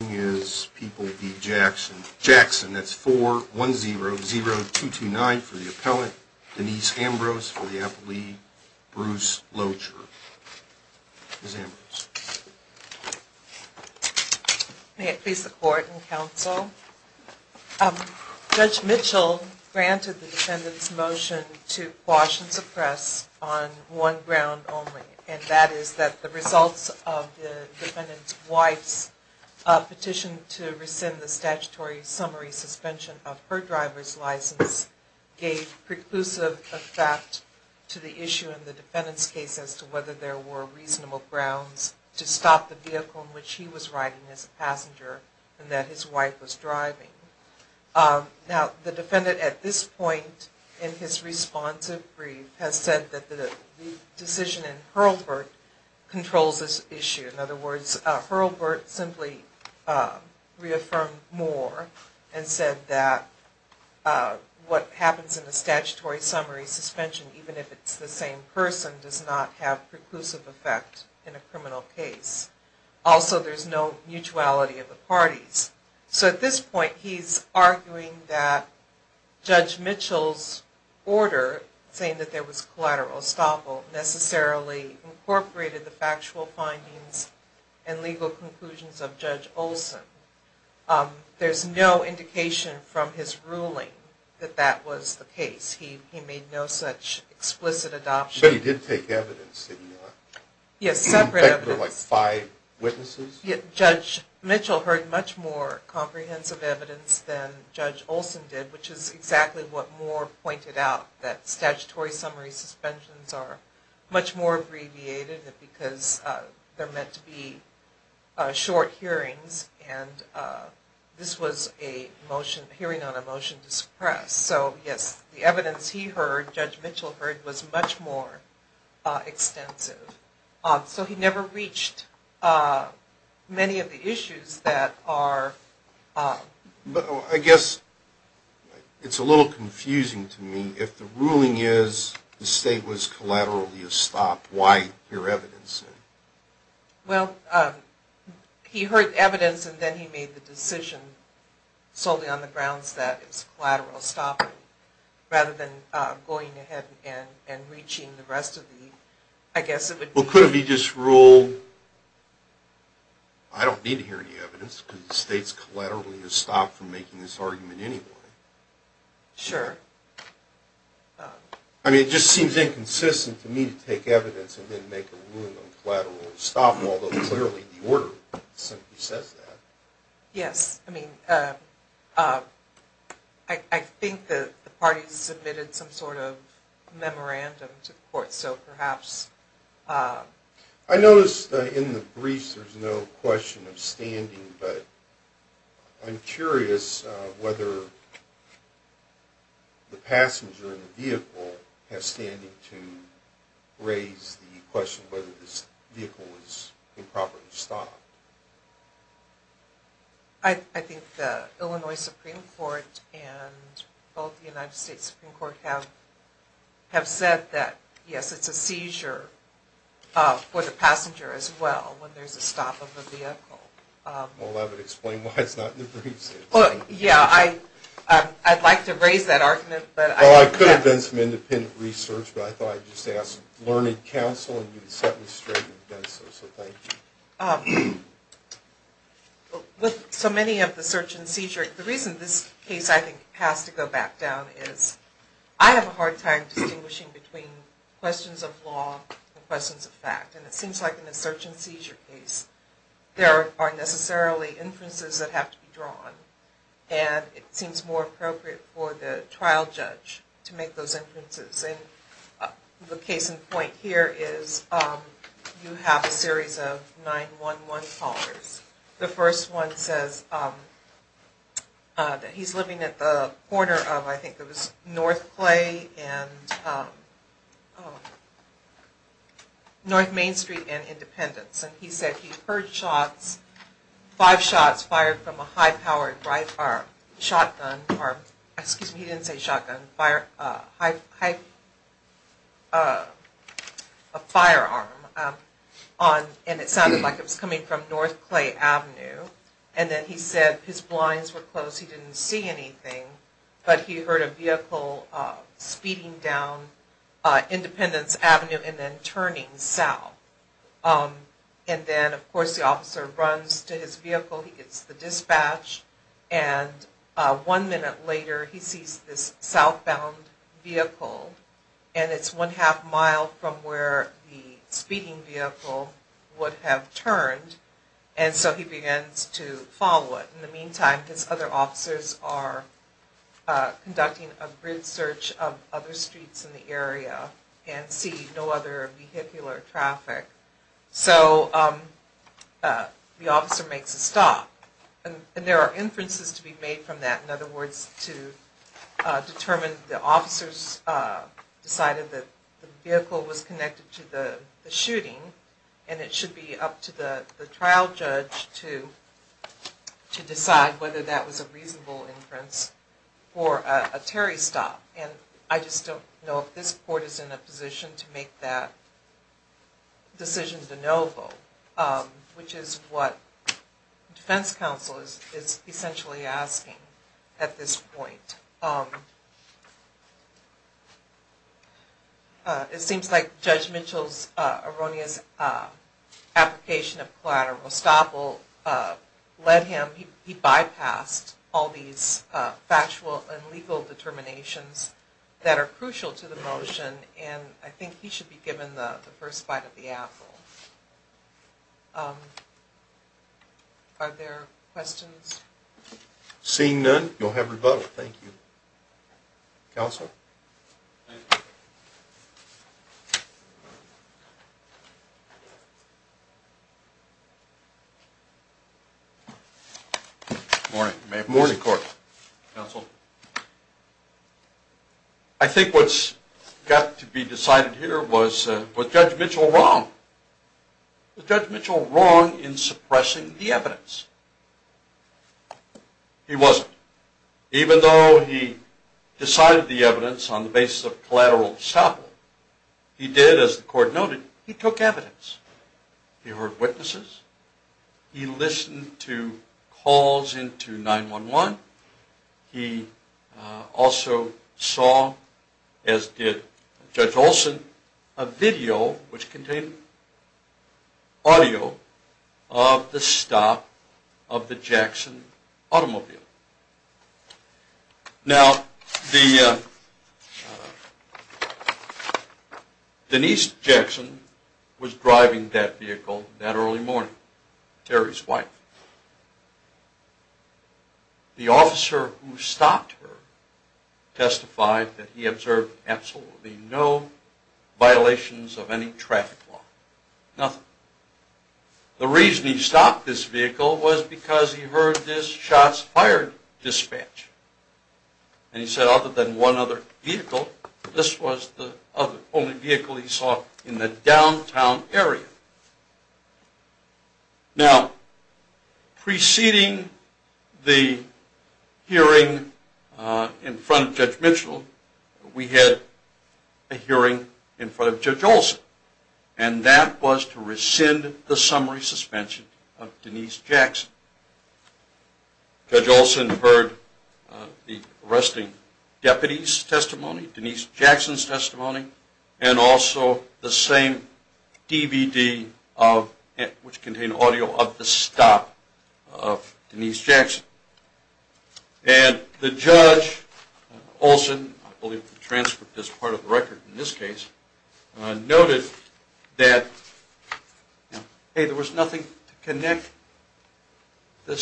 That's 4100229 for the appellant, Denise Ambrose for the appellee, Bruce Locher. Judge Mitchell granted the defendant's motion to quash and suppress on one ground only, and that is that the results of the defendant's wife's petition to rescind the statutory summary suspension of her driver's license gave preclusive effect to the issue in the defendant's case as to whether there were reasonable grounds to stop the vehicle in which he was riding as a passenger and that his wife was driving. Now, the defendant at this point in his responsive brief has said that the decision in Hurlburt controls this issue. In other words, Hurlburt simply reaffirmed Moore and said that what happens in the statutory summary suspension, even if it's the same person, does not have preclusive effect in a criminal case. Also, there's no mutuality of the parties. So at this point, he's arguing that Judge Mitchell's order, saying that there was collateral estoppel, necessarily incorporated the factual findings and legal conclusions of Judge Olson. There's no indication from his ruling that that was the case. He made no such explicit adoption. So he did take evidence, did he not? Yes, separate evidence. In fact, there were like five witnesses? Judge Mitchell heard much more comprehensive evidence than Judge Olson did, which is exactly what Moore pointed out, that statutory summary suspensions are much more abbreviated because they're meant to be short hearings and this was a hearing on a motion to suppress. So yes, the evidence he heard, Judge Mitchell heard, was much more extensive. So he never reached many of the issues that are... I guess it's a little confusing to me. If the ruling is the state was collaterally estopped, why hear evidence? Well, he heard evidence and then he made the decision solely on the grounds that it's collateral estoppel rather than going ahead and reaching the rest of the... Well, could it be just ruled, I don't need to hear any evidence because the state's collaterally estopped from making this argument anyway. Sure. I mean, it just seems inconsistent to me to take evidence and then make a ruling on collateral estoppel, although clearly the order simply says that. Yes, I mean, I think the parties submitted some sort of memorandum to the court, so perhaps... I noticed in the briefs there's no question of standing, but I'm curious whether the passenger in the vehicle has standing to raise the question whether this vehicle was improperly stopped. I think the Illinois Supreme Court and both the United States Supreme Court have said that, yes, it's a seizure for the passenger as well when there's a stop of the vehicle. Well, that would explain why it's not in the briefs. Well, yeah, I'd like to raise that argument, but... Well, I could have done some independent research, but I thought I'd just ask Learning Council and you'd set me straight if you did so, so thank you. With so many of the search and seizure, the reason this case, I think, has to go back down is I have a hard time distinguishing between questions of law and questions of fact, and it seems like in a search and seizure case, there aren't necessarily inferences that have to be drawn, and it seems more appropriate for the trial judge to make those inferences. The case in point here is you have a series of 911 callers. The first one says that he's living at the corner of, I think it was North Clay and North Main Street and Independence, and he said he heard shots, five shots fired from a high-powered shotgun, or, excuse me, he didn't say shotgun, a firearm, and it sounded like it was coming from North Clay Avenue, and then he said his blinds were closed, he didn't see anything, but he heard a vehicle speeding down Independence Avenue and then turning south, and then, of course, the officer runs to his vehicle, he gets the dispatch, and one minute later, he sees this southbound vehicle, and it's one half mile from where the speeding vehicle would have turned, and so he begins to follow it. In the meantime, his other officers are conducting a grid search of other streets in the area and see no other vehicular traffic. So the officer makes a stop, and there are inferences to be made from that. In other words, to determine if the officers decided that the vehicle was connected to the shooting, and it should be up to the trial judge to decide whether that was a reasonable inference for a Terry stop. And I just don't know if this court is in a position to make that decision de novo, which is what defense counsel is essentially asking at this point. It seems like Judge Mitchell's erroneous application of collateral estoppel led him, he bypassed all these factual and legal determinations that are crucial to the motion, and I think he should be given the first bite of the apple. Are there questions? Seeing none, you'll have rebuttal. Thank you. Counsel? Good morning. Good morning, Court. Counsel? I think what's got to be decided here was, was Judge Mitchell wrong? Was Judge Mitchell wrong in suppressing the evidence? He wasn't. Even though he decided the evidence on the basis of collateral estoppel, he did, as the court noted, he took evidence. He heard witnesses. He listened to calls into 911. He also saw, as did Judge Olson, a video which contained audio of the stop of the Jackson automobile. Now, Denise Jackson was driving that vehicle that early morning, Terry's wife. The officer who stopped her testified that he observed absolutely no violations of any traffic law, nothing. The reason he stopped this vehicle was because he heard this shots fired dispatch, and he said other than one other vehicle, this was the only vehicle he saw in the downtown area. Now, preceding the hearing in front of Judge Mitchell, we had a hearing in front of Judge Olson, and that was to rescind the summary suspension of Denise Jackson. Judge Olson heard the arresting deputy's testimony, Denise Jackson's testimony, and also the same DVD which contained audio of the stop of Denise Jackson. And the judge, Olson, I believe was transferred as part of the record in this case, noted that, hey, there was nothing to connect the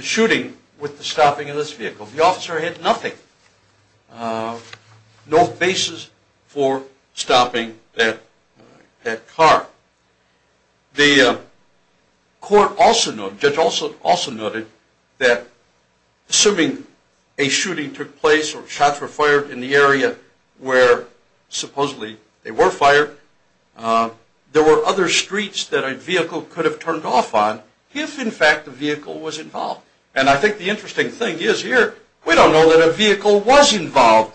shooting with the stopping of this vehicle. The officer had nothing, no basis for stopping that car. The court also noted, Judge Olson also noted, that assuming a shooting took place or shots were fired in the area where supposedly they were fired, there were other streets that a vehicle could have turned off on if, in fact, the vehicle was involved. And I think the interesting thing is here, we don't know that a vehicle was involved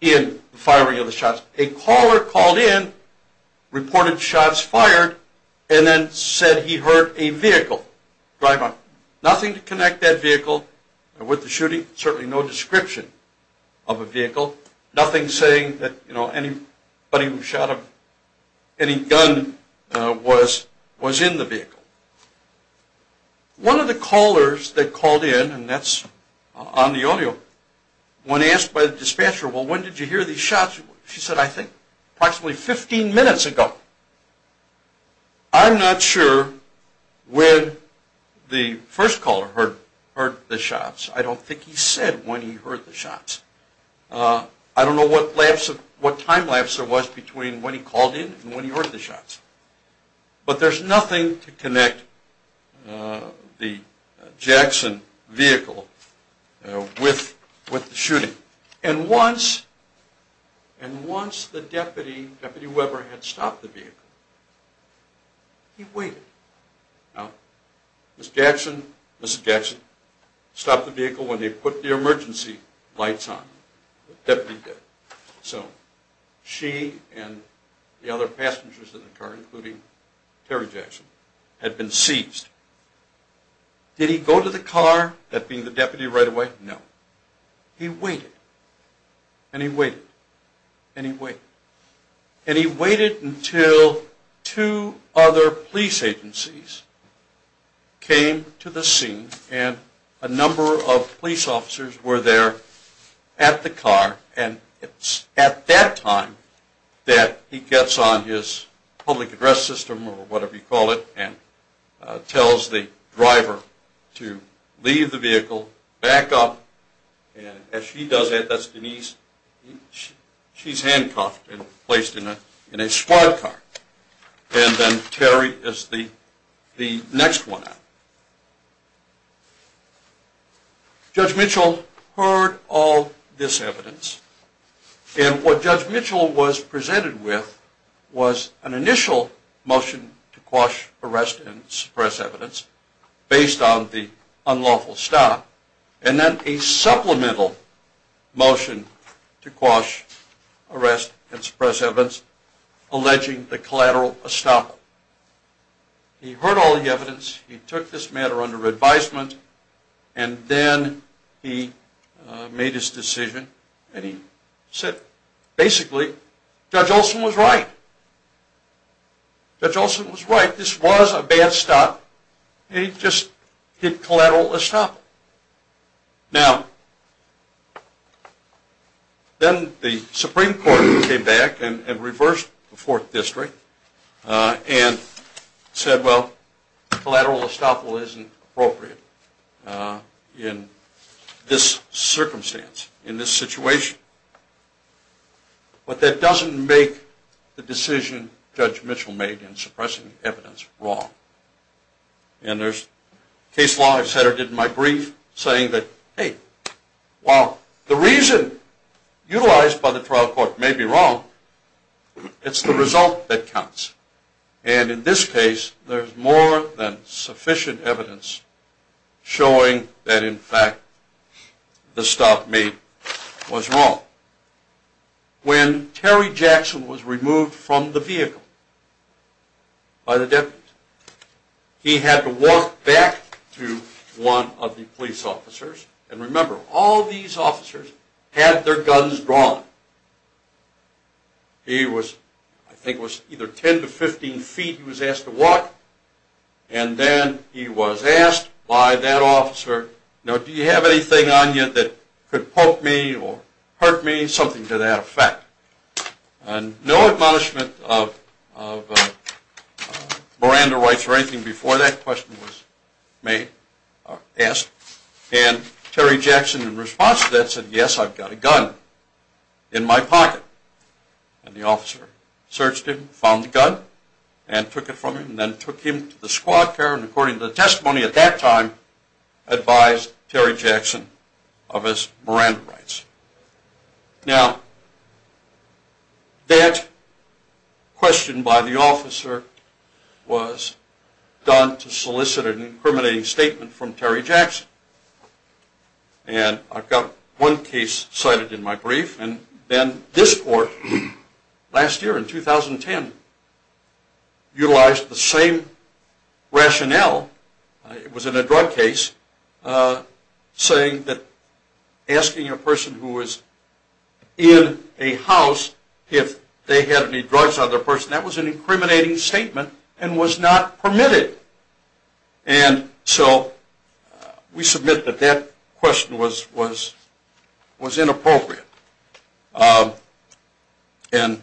in the firing of the shots. A caller called in, reported shots fired, and then said he heard a vehicle drive up. Nothing to connect that vehicle with the shooting, certainly no description of a vehicle, nothing saying that anybody who shot him, any gun was in the vehicle. One of the callers that called in, and that's on the audio, when asked by the dispatcher, well, when did you hear these shots? She said, I think approximately 15 minutes ago. I'm not sure when the first caller heard the shots. I don't think he said when he heard the shots. I don't know what time lapse there was between when he called in and when he heard the shots. But there's nothing to connect the Jackson vehicle with the shooting. And once the deputy, Deputy Weber, had stopped the vehicle, he waited. Now, Ms. Jackson stopped the vehicle when they put the emergency lights on, the deputy did. So, she and the other passengers in the car, including Terry Jackson, had been seized. Did he go to the car, that being the deputy, right away? No. He waited. And he waited. And he waited. And he waited until two other police agencies came to the scene and a number of police officers were there at the car. And it's at that time that he gets on his public address system, or whatever you call it, and tells the driver to leave the vehicle, back up. And as she does that, that's Denise, she's handcuffed and placed in a squad car. And then Terry is the next one out. Judge Mitchell heard all this evidence, and what Judge Mitchell was presented with was an initial motion to quash, arrest, and suppress evidence, based on the unlawful stop, and then a supplemental motion to quash, arrest, and suppress evidence alleging the collateral estoppel. He heard all the evidence. He took this matter under advisement. And then he made his decision. And he said, basically, Judge Olson was right. Judge Olson was right. This was a bad stop. He just hit collateral estoppel. Now, then the Supreme Court came back and reversed the Fourth District and said, well, collateral estoppel isn't appropriate in this circumstance, in this situation. But that doesn't make the decision Judge Mitchell made in suppressing evidence wrong. And there's case law I've said or did in my brief saying that, hey, while the reason utilized by the trial court may be wrong, it's the result that counts. And in this case, there's more than sufficient evidence showing that, in fact, the stop made was wrong. When Terry Jackson was removed from the vehicle by the deputies, he had to walk back to one of the police officers. And remember, all these officers had their guns drawn. He was, I think it was either 10 to 15 feet he was asked to walk. And then he was asked by that officer, do you have anything on you that could poke me or hurt me, something to that effect. And no admonishment of Miranda rights or anything before that question was asked. And Terry Jackson, in response to that, said, yes, I've got a gun in my pocket. And the officer searched him, found the gun and took it from him and then took him to the squad car and, according to the testimony at that time, advised Terry Jackson of his Miranda rights. Now, that question by the officer was done to solicit an incriminating statement from Terry Jackson. And I've got one case cited in my brief. And then this court, last year in 2010, utilized the same rationale, it was in a drug case, saying that asking a person who was in a house if they had any drugs on their person, that was an incriminating statement and was not permitted. And so we submit that that question was inappropriate and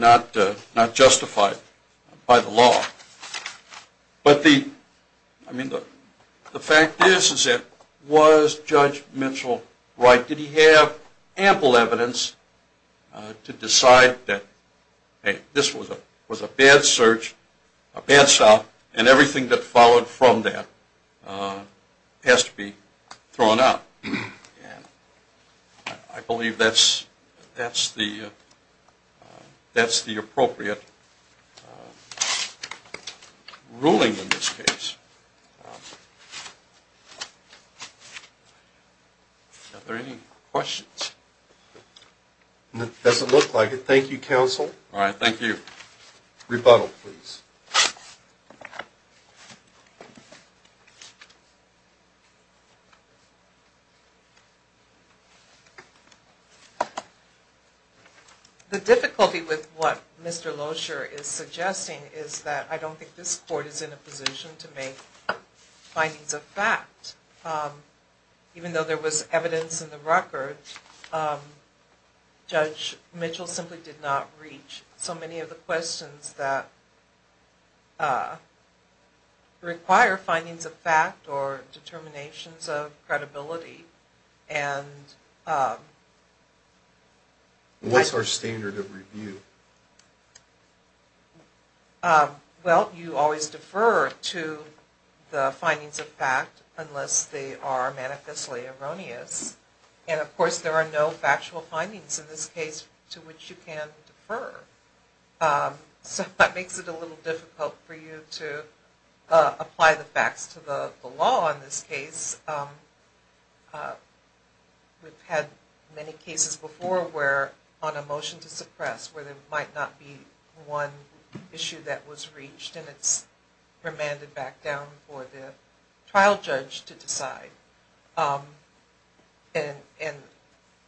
not justified by the law. But the fact is that was Judge Mitchell right? Did he have ample evidence to decide that, hey, this was a bad search, a bad stop, and everything that followed from that has to be thrown out? And I believe that's the appropriate ruling in this case. Are there any questions? It doesn't look like it. Thank you, counsel. All right. Thank you. Rebuttal, please. The difficulty with what Mr. Loescher is suggesting is that I don't think this court is in a position to make a decision with findings of fact. Even though there was evidence in the record, Judge Mitchell simply did not reach so many of the questions that require findings of fact or determinations of credibility. What's our standard of review? Well, you always defer to the findings of fact unless they are manifestly erroneous. And of course there are no factual findings in this case to which you can defer. So that makes it a little difficult for you to apply the facts to the law in this case. We've had many cases before where on a motion to suppress where there might not be one issue that was reached and it's remanded back down for the trial judge to decide. And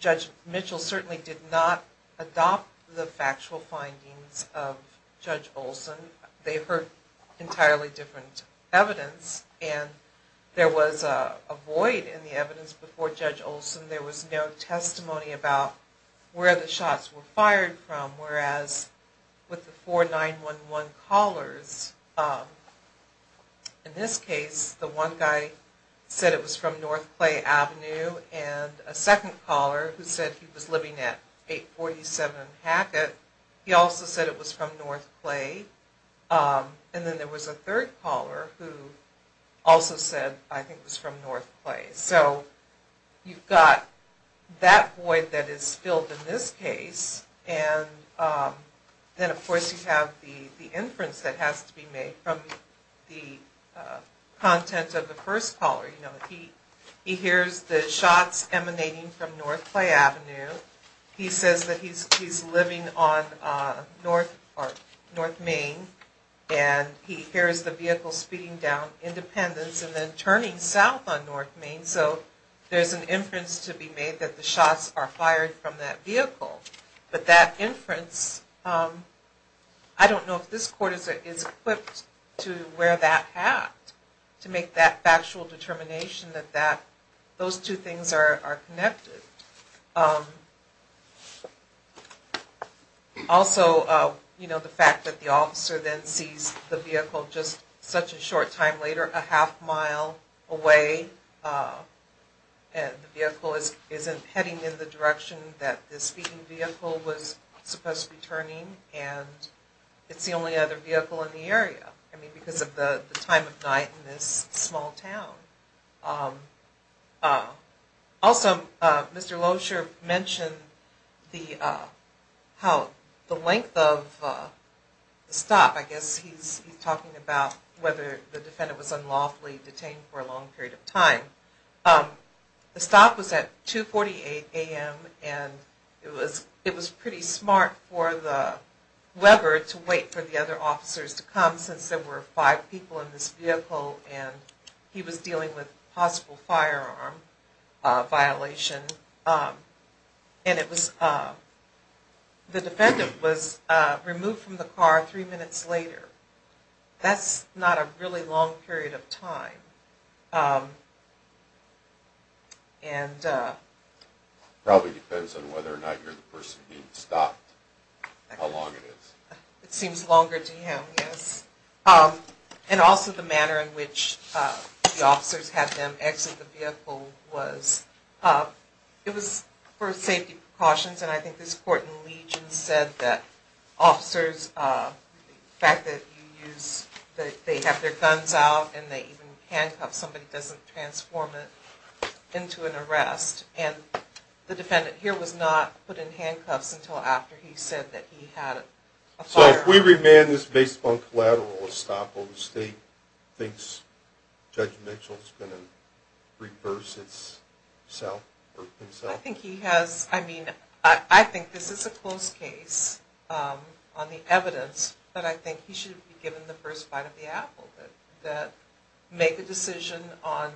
Judge Mitchell certainly did not adopt the factual findings of Judge Olson. They heard entirely different evidence and there was a void in the evidence before Judge Olson. There was no testimony about where the shots were fired from. Whereas with the 4911 callers, in this case the one guy said it was from North Clay Avenue and a second caller who said he was living at 847 Hackett. He also said it was from North Clay. And then there was a third caller who also said I think it was from North Clay. So you've got that void that is filled in this case. And then of course you have the inference that has to be made from the content of the first caller. He hears the shots emanating from North Clay Avenue. He says that he's living on North Main. And he hears the vehicle speeding down Independence and then turning south on North Main. So there's an inference to be made that the shots are fired from that vehicle. But that inference, I don't know if this court is equipped to wear that hat. To make that factual determination that those two things are connected. Also the fact that the officer then sees the vehicle just such a short time later, a half mile away. And the vehicle isn't heading in the direction that the speeding vehicle was supposed to be turning. And it's the only other vehicle in the area. I mean because of the time of night in this small town. Also Mr. Loescher mentioned the length of the stop. I guess he's talking about whether the defendant was unlawfully detained for a long period of time. The stop was at 2.48 a.m. And it was pretty smart for the Weber to wait for the other officers to come since there were five people in this vehicle. And he was dealing with possible firearm violation. And it was, the defendant was removed from the car three minutes later. That's not a really long period of time. And... Probably depends on whether or not you're the person being stopped, how long it is. It seems longer to him, yes. And also the manner in which the officers had them exit the vehicle was, it was for safety precautions. And I think this court in Legion said that officers, the fact that you use, that they have their guns out and they even handcuff somebody doesn't transform it into an arrest. And the defendant here was not put in handcuffs until after he said that he had a firearm. So if we remand this based upon collateral, will the state think Judge Mitchell is going to reverse himself? I think he has, I mean, I think this is a close case on the evidence. But I think he should be given the first bite of the apple. Make a decision on,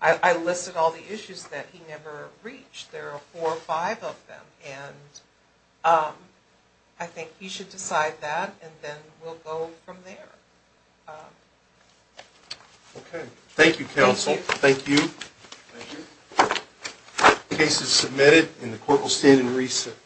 I listed all the issues that he never reached. There are four or five of them. And I think he should decide that, and then we'll go from there. Okay. Thank you, counsel. Thank you. Thank you. The case is submitted, and the court will stand in recess.